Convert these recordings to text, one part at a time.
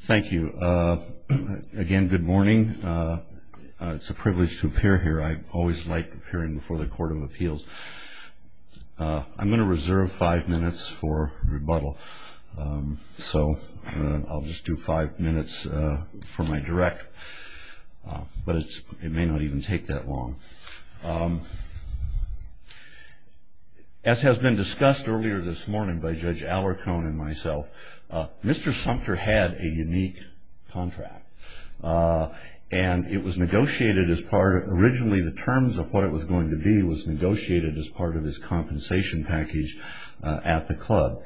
Thank you. Again, good morning. It's a privilege to appear here. I always like appearing before the Court of Appeals. I'm going to reserve five minutes for rebuttal, so I'll just do five minutes for my direct, but it may not even take that long. As has been discussed earlier this morning by Judge Allercone and myself, Mr. Sumpter had a unique contract. Originally, the terms of what it was going to be was negotiated as part of his compensation package at the club.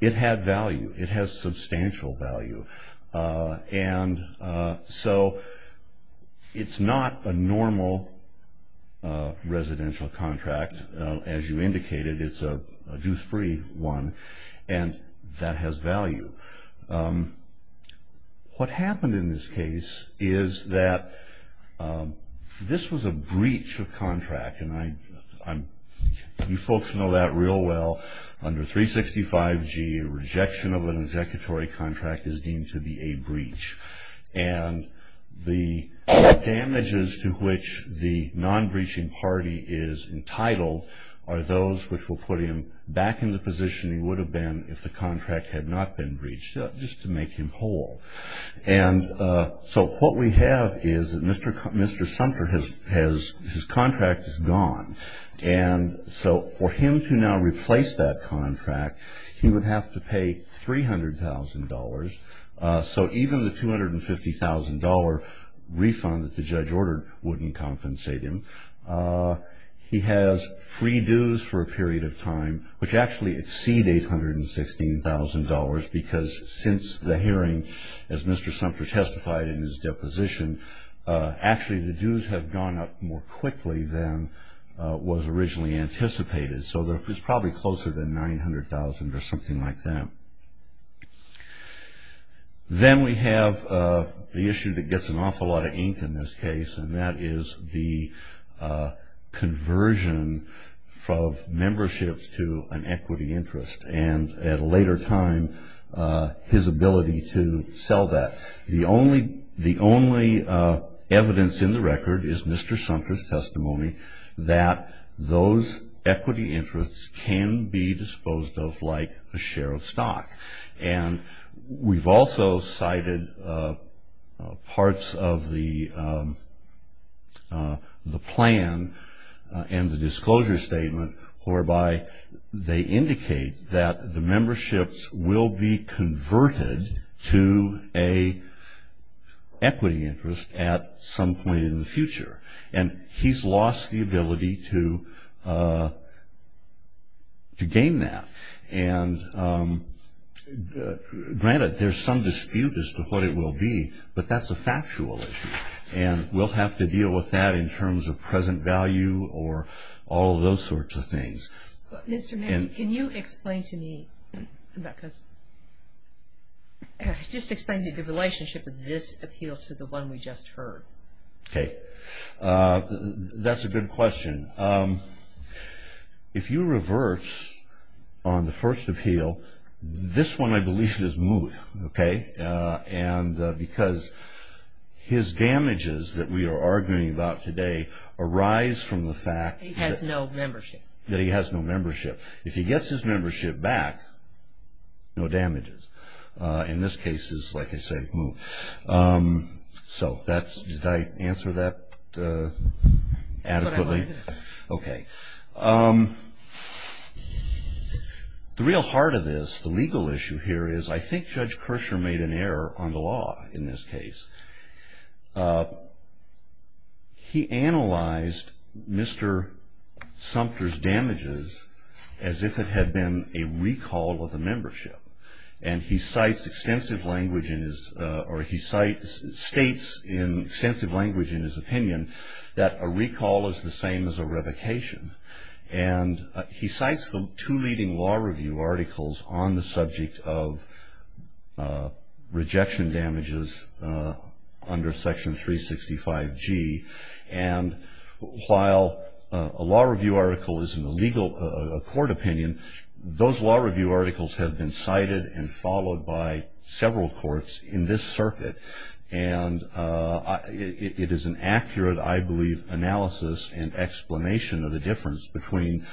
It had value. It has substantial value, and so it's not a normal residential contract. As you indicated, it's a juice-free one, and that has value. What happened in this case is that this was a breach of contract, and you folks know that real well. Under 365G, a rejection of an executory contract is deemed to be a breach. The damages to which the non-breaching party is entitled are those which will put him back in the position he would have been if the contract had not been breached, just to make him whole. So what we have is that Mr. Sumpter, his contract is gone, and so for him to now replace that contract, he would have to pay $300,000. So even the $250,000 refund that the judge ordered wouldn't compensate him. He has free dues for a period of time, which actually exceed $816,000, because since the hearing, as Mr. Sumpter testified in his deposition, actually the dues have gone up more quickly than was originally anticipated. So it's probably closer than $900,000 or something like that. Then we have the issue that gets an awful lot of ink in this case, and that is the conversion of memberships to an equity interest, and at a later time, his ability to sell that. The only evidence in the record is Mr. Sumpter's testimony that those equity interests can be disposed of like a share of stock. We've also cited parts of the plan and the disclosure statement, whereby they indicate that the memberships will be converted to an equity interest at some point in the future. And he's lost the ability to gain that. And granted, there's some dispute as to what it will be, but that's a factual issue, and we'll have to deal with that in terms of present value or all those sorts of things. Mr. Manning, can you explain to me, just explain the relationship of this appeal to the one we just heard? Okay. That's a good question. If you reverse on the first appeal, this one I believe is moot, okay, because his damages that we are arguing about today arise from the fact that he has no membership. If he gets his membership back, no damages. In this case, it's like I said, moot. So did I answer that adequately? That's what I wanted to know. Okay. The real heart of this, the legal issue here, is I think Judge Kershaw made an error on the law in this case. He analyzed Mr. Sumter's damages as if it had been a recall of the membership, and he states in extensive language in his opinion that a recall is the same as a revocation, and he cites the two leading law review articles on the subject of rejection damages under Section 365G, and while a law review article is a court opinion, those law review articles have been cited and followed by several courts in this circuit, and it is an accurate, I believe, analysis and explanation of the difference between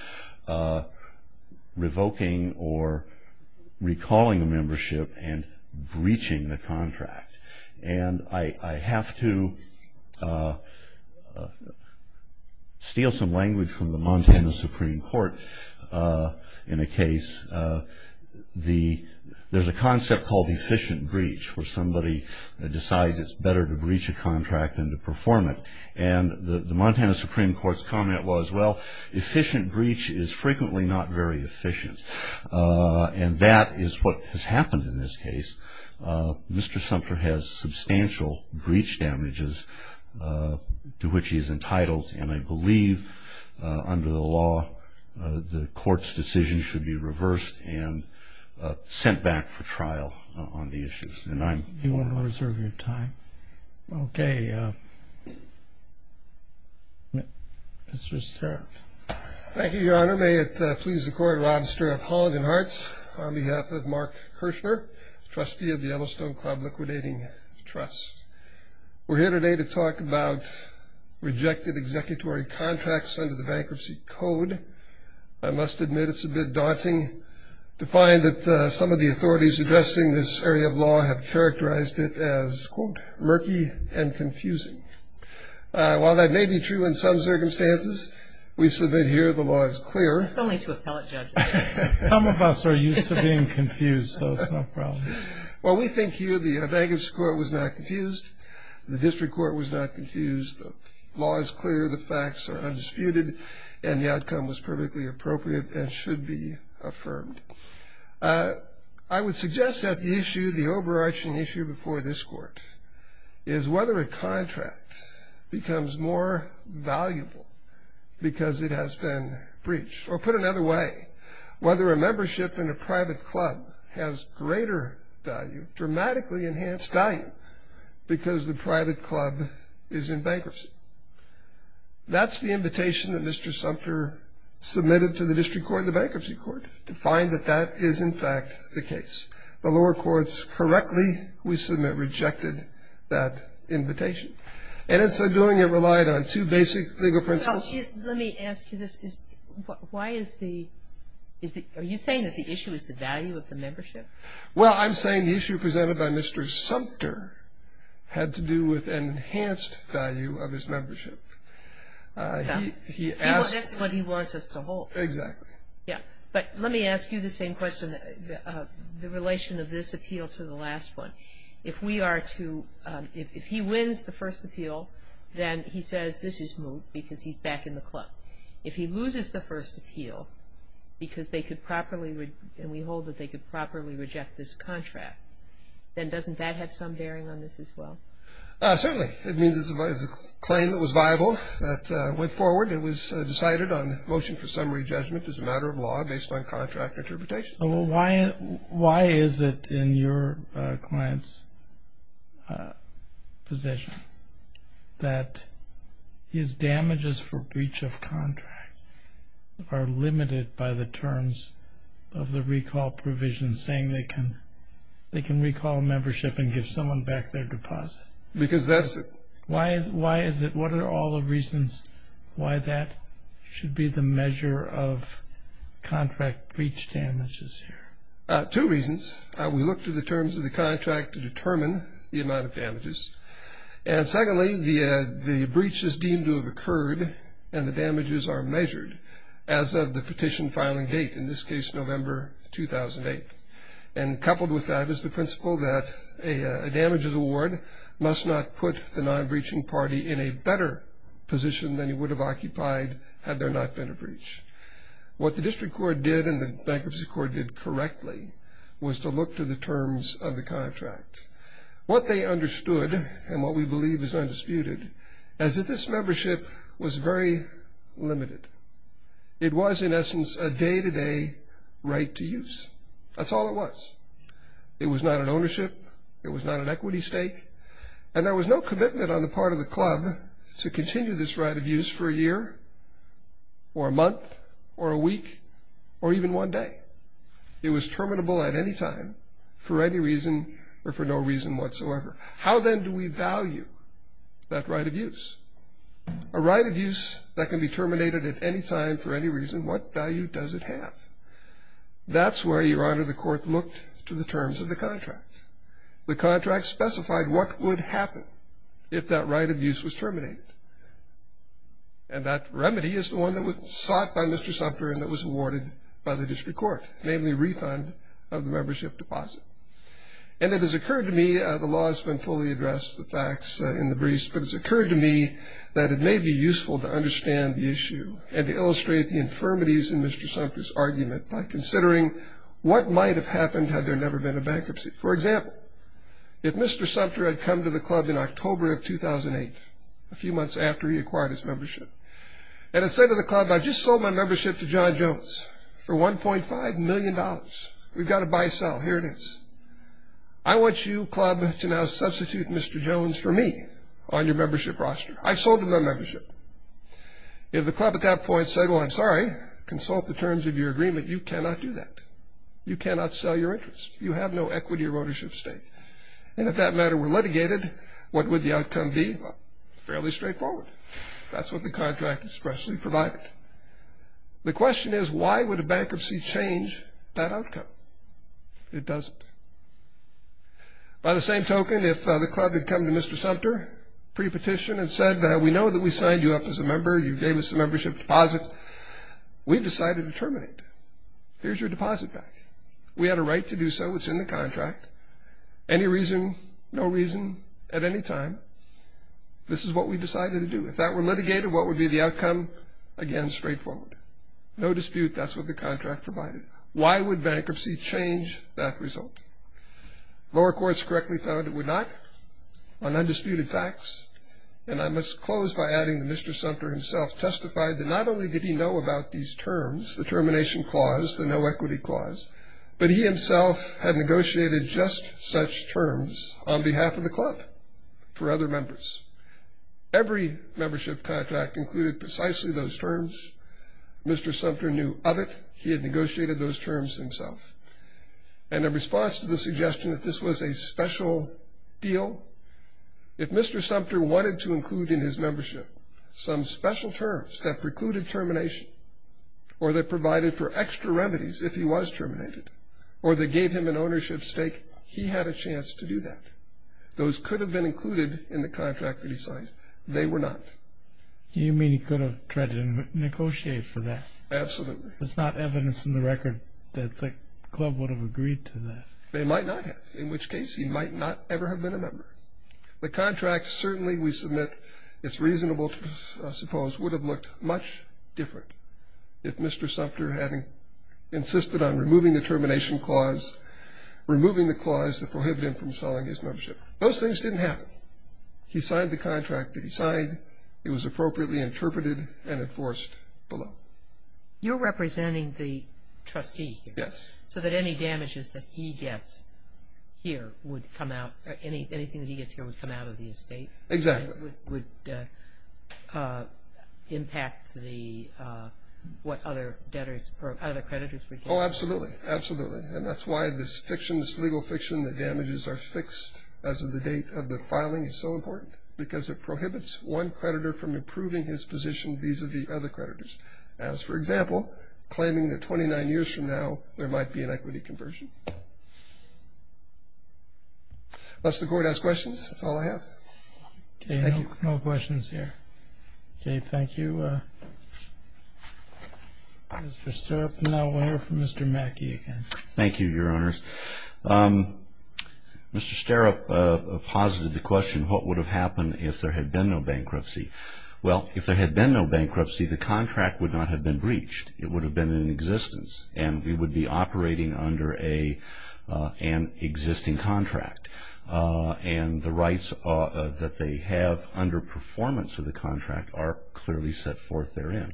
revoking or recalling a membership and breaching the contract. I have to steal some language from the Montana Supreme Court in a case. There's a concept called efficient breach where somebody decides it's better to breach a contract than to perform it, and the Montana Supreme Court's comment was, well, efficient breach is frequently not very efficient, and that is what has happened in this case. Mr. Sumter has substantial breach damages to which he is entitled, and I believe under the law the court's decision should be reversed and sent back for trial on the issues. Do you want to reserve your time? Okay. Thank you, Your Honor. Your Honor, may it please the court, Robster of Holland and Hearts, on behalf of Mark Kirshner, trustee of the Yellowstone Club Liquidating Trust. We're here today to talk about rejected executory contracts under the Bankruptcy Code. I must admit it's a bit daunting to find that some of the authorities addressing this area of law have characterized it as, quote, murky and confusing. While that may be true in some circumstances, we submit here the law is clear. That's only to appellate judges. Some of us are used to being confused, so it's no problem. Well, we think here the bankruptcy court was not confused, the district court was not confused, the law is clear, the facts are undisputed, and the outcome was perfectly appropriate and should be affirmed. I would suggest that the issue, the overarching issue before this court, is whether a contract becomes more valuable because it has been breached. Or put another way, whether a membership in a private club has greater value, dramatically enhanced value, because the private club is in bankruptcy. That's the invitation that Mr. Sumter submitted to the district court and the bankruptcy court, to find that that is, in fact, the case. The lower courts correctly, we submit, rejected that invitation. And in so doing, it relied on two basic legal principles. Let me ask you this. Why is the – are you saying that the issue is the value of the membership? Well, I'm saying the issue presented by Mr. Sumter had to do with an enhanced value of his membership. That's what he wants us to hold. Exactly. Yeah. But let me ask you the same question, the relation of this appeal to the last one. If we are to – if he wins the first appeal, then he says this is moot because he's back in the club. If he loses the first appeal because they could properly – and we hold that they could properly reject this contract, then doesn't that have some bearing on this as well? Certainly. It means it's a claim that was viable, that went forward, it was decided on motion for summary judgment as a matter of law based on contract interpretation. Well, why is it in your client's position that his damages for breach of contract are limited by the terms of the recall provision saying they can recall a membership and give someone back their deposit? Because that's – Why is it – what are all the reasons why that should be the measure of contract breach damages here? Two reasons. We look to the terms of the contract to determine the amount of damages. And secondly, the breach is deemed to have occurred and the damages are measured as of the petition filing date, in this case November 2008. And coupled with that is the principle that a damages award must not put the non-breaching party in a better position than it would have occupied had there not been a breach. What the district court did and the bankruptcy court did correctly was to look to the terms of the contract. What they understood and what we believe is undisputed is that this membership was very limited. It was, in essence, a day-to-day right to use. That's all it was. It was not an ownership. It was not an equity stake. And there was no commitment on the part of the club to continue this right of use for a year or a month or a week or even one day. It was terminable at any time for any reason or for no reason whatsoever. How then do we value that right of use? A right of use that can be terminated at any time for any reason, what value does it have? That's where, Your Honor, the court looked to the terms of the contract. The contract specified what would happen if that right of use was terminated. And that remedy is the one that was sought by Mr. Sumter and that was awarded by the district court, namely refund of the membership deposit. And it has occurred to me, the law has been fully addressed, the facts in the breach, but it has occurred to me that it may be useful to understand the issue and to illustrate the infirmities in Mr. Sumter's argument by considering what might have happened had there never been a bankruptcy. For example, if Mr. Sumter had come to the club in October of 2008, a few months after he acquired his membership, and had said to the club, I just sold my membership to John Jones for $1.5 million. We've got to buy-sell. Here it is. I want you, club, to now substitute Mr. Jones for me on your membership roster. I sold him the membership. If the club at that point said, well, I'm sorry, consult the terms of your agreement, you cannot do that. You cannot sell your interest. You have no equity or ownership stake. And if that matter were litigated, what would the outcome be? Well, it's fairly straightforward. That's what the contract expressly provided. The question is, why would a bankruptcy change that outcome? It doesn't. By the same token, if the club had come to Mr. Sumter pre-petition and said, we know that we signed you up as a member. You gave us a membership deposit. We've decided to terminate. Here's your deposit back. We had a right to do so. It's in the contract. Any reason, no reason, at any time, this is what we've decided to do. If that were litigated, what would be the outcome? Again, straightforward. No dispute. That's what the contract provided. Why would bankruptcy change that result? Lower courts correctly found it would not on undisputed facts. And I must close by adding that Mr. Sumter himself testified that not only did he know about these terms, the termination clause, the no equity clause, but he himself had negotiated just such terms on behalf of the club for other members. Every membership contract included precisely those terms. Mr. Sumter knew of it. He had negotiated those terms himself. And in response to the suggestion that this was a special deal, if Mr. Sumter wanted to include in his membership some special terms that precluded termination or that provided for extra remedies if he was terminated or that gave him an ownership stake, he had a chance to do that. Those could have been included in the contract that he signed. They were not. You mean he could have tried to negotiate for that? Absolutely. There's not evidence in the record that the club would have agreed to that. They might not have, in which case he might not ever have been a member. The contract certainly we submit it's reasonable to suppose would have looked much different if Mr. Sumter hadn't insisted on removing the termination clause, removing the clause that prohibited him from selling his membership. He signed the contract that he signed. It was appropriately interpreted and enforced below. You're representing the trustee? Yes. So that any damages that he gets here would come out, anything that he gets here would come out of the estate? Exactly. Would impact what other creditors would get? Oh, absolutely. Absolutely. And that's why this fiction, this legal fiction, the damages are fixed as of the date of the filing is so important, because it prohibits one creditor from improving his position vis-a-vis other creditors. As for example, claiming that 29 years from now, there might be an equity conversion. Unless the court has questions, that's all I have. Okay, no questions here. Okay, thank you. Mr. Sterup, now we'll hear from Mr. Mackey again. Thank you, Your Honors. Mr. Sterup posited the question, what would have happened if there had been no bankruptcy? Well, if there had been no bankruptcy, the contract would not have been breached. It would have been in existence. And we would be operating under an existing contract. And the rights that they have under performance of the contract are clearly set forth therein.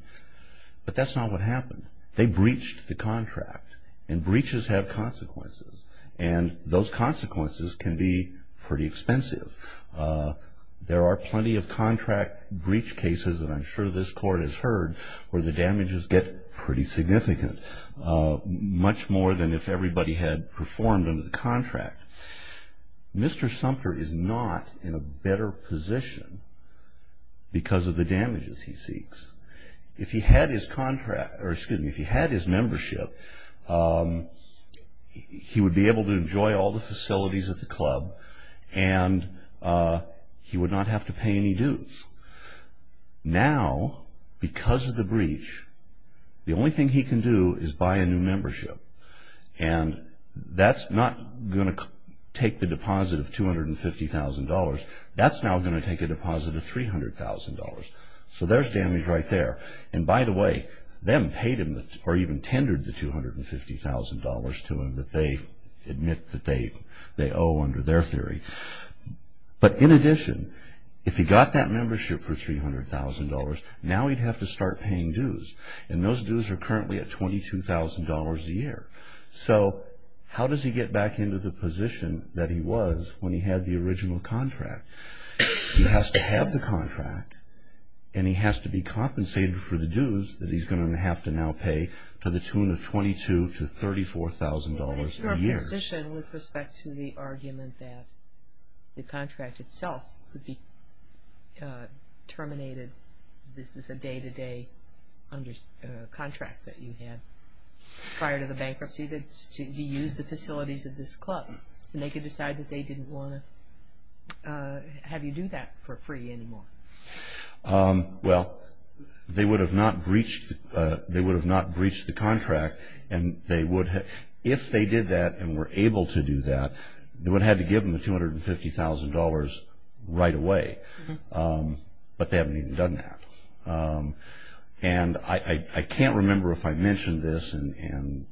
But that's not what happened. They breached the contract. And breaches have consequences. And those consequences can be pretty expensive. There are plenty of contract breach cases, and I'm sure this Court has heard, where the damages get pretty significant, much more than if everybody had performed under the contract. Mr. Sumter is not in a better position because of the damages he seeks. If he had his membership, he would be able to enjoy all the facilities at the club. And he would not have to pay any dues. Now, because of the breach, the only thing he can do is buy a new membership. And that's not going to take the deposit of $250,000. That's now going to take a deposit of $300,000. So there's damage right there. And by the way, them paid him, or even tendered the $250,000 to him, that they admit that they owe under their theory. But in addition, if he got that membership for $300,000, now he'd have to start paying dues. And those dues are currently at $22,000 a year. So how does he get back into the position that he was when he had the original contract? He has to have the contract. And he has to be compensated for the dues that he's going to have to now pay to the tune of $22,000 to $34,000 a year. What is your position with respect to the argument that the contract itself could be terminated? This was a day-to-day contract that you had prior to the bankruptcy that you used the facilities of this club. And they could decide that they didn't want to have you do that for free anymore. Well, they would have not breached the contract. And if they did that and were able to do that, they would have had to give him the $250,000 right away. But they haven't even done that. And I can't remember if I mentioned this, and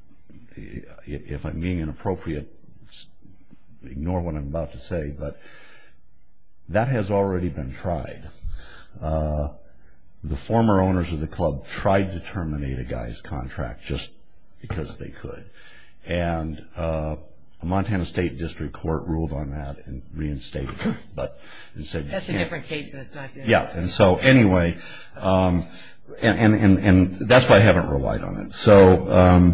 if I'm being inappropriate, ignore what I'm about to say, but that has already been tried. The former owners of the club tried to terminate a guy's contract just because they could. And the Montana State District Court ruled on that and reinstated him. That's a different case than this, right? Yes. And so anyway, and that's why I haven't relied on it. So,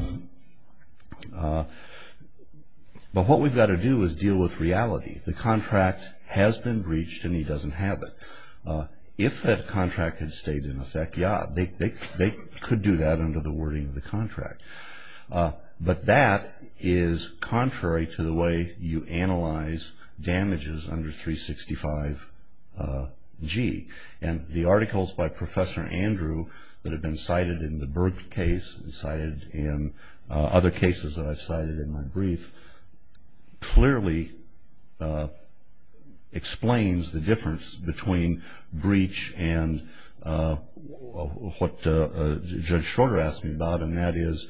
but what we've got to do is deal with reality. The contract has been breached and he doesn't have it. If that contract had stayed in effect, yeah, they could do that under the wording of the contract. But that is contrary to the way you analyze damages under 365G. And the articles by Professor Andrew that have been cited in the Berg case and cited in other cases that I've cited in my brief, clearly explains the difference between breach and what Judge Shorter asked me about, and that is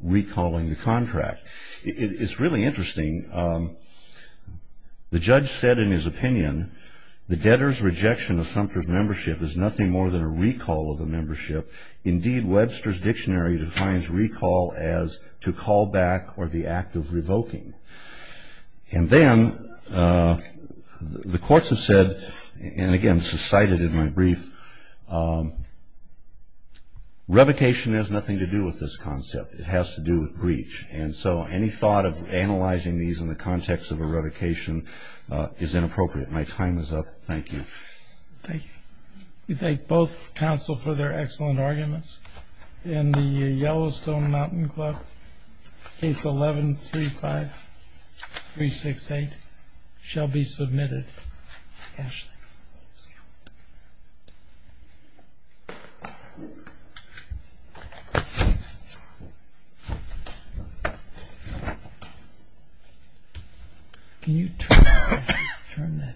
recalling the contract. It's really interesting. The judge said in his opinion, the debtor's rejection of Sumter's membership is nothing more than a recall of a membership. Indeed, Webster's Dictionary defines recall as to call back or the act of revoking. And then the courts have said, and again, this is cited in my brief, revocation has nothing to do with this concept. It has to do with breach. And so any thought of analyzing these in the context of a revocation is inappropriate. My time is up. Thank you. Thank you. We thank both counsel for their excellent arguments. And the Yellowstone Mountain Club, Case 11-35368, shall be submitted. Ashley. Can you turn that page there?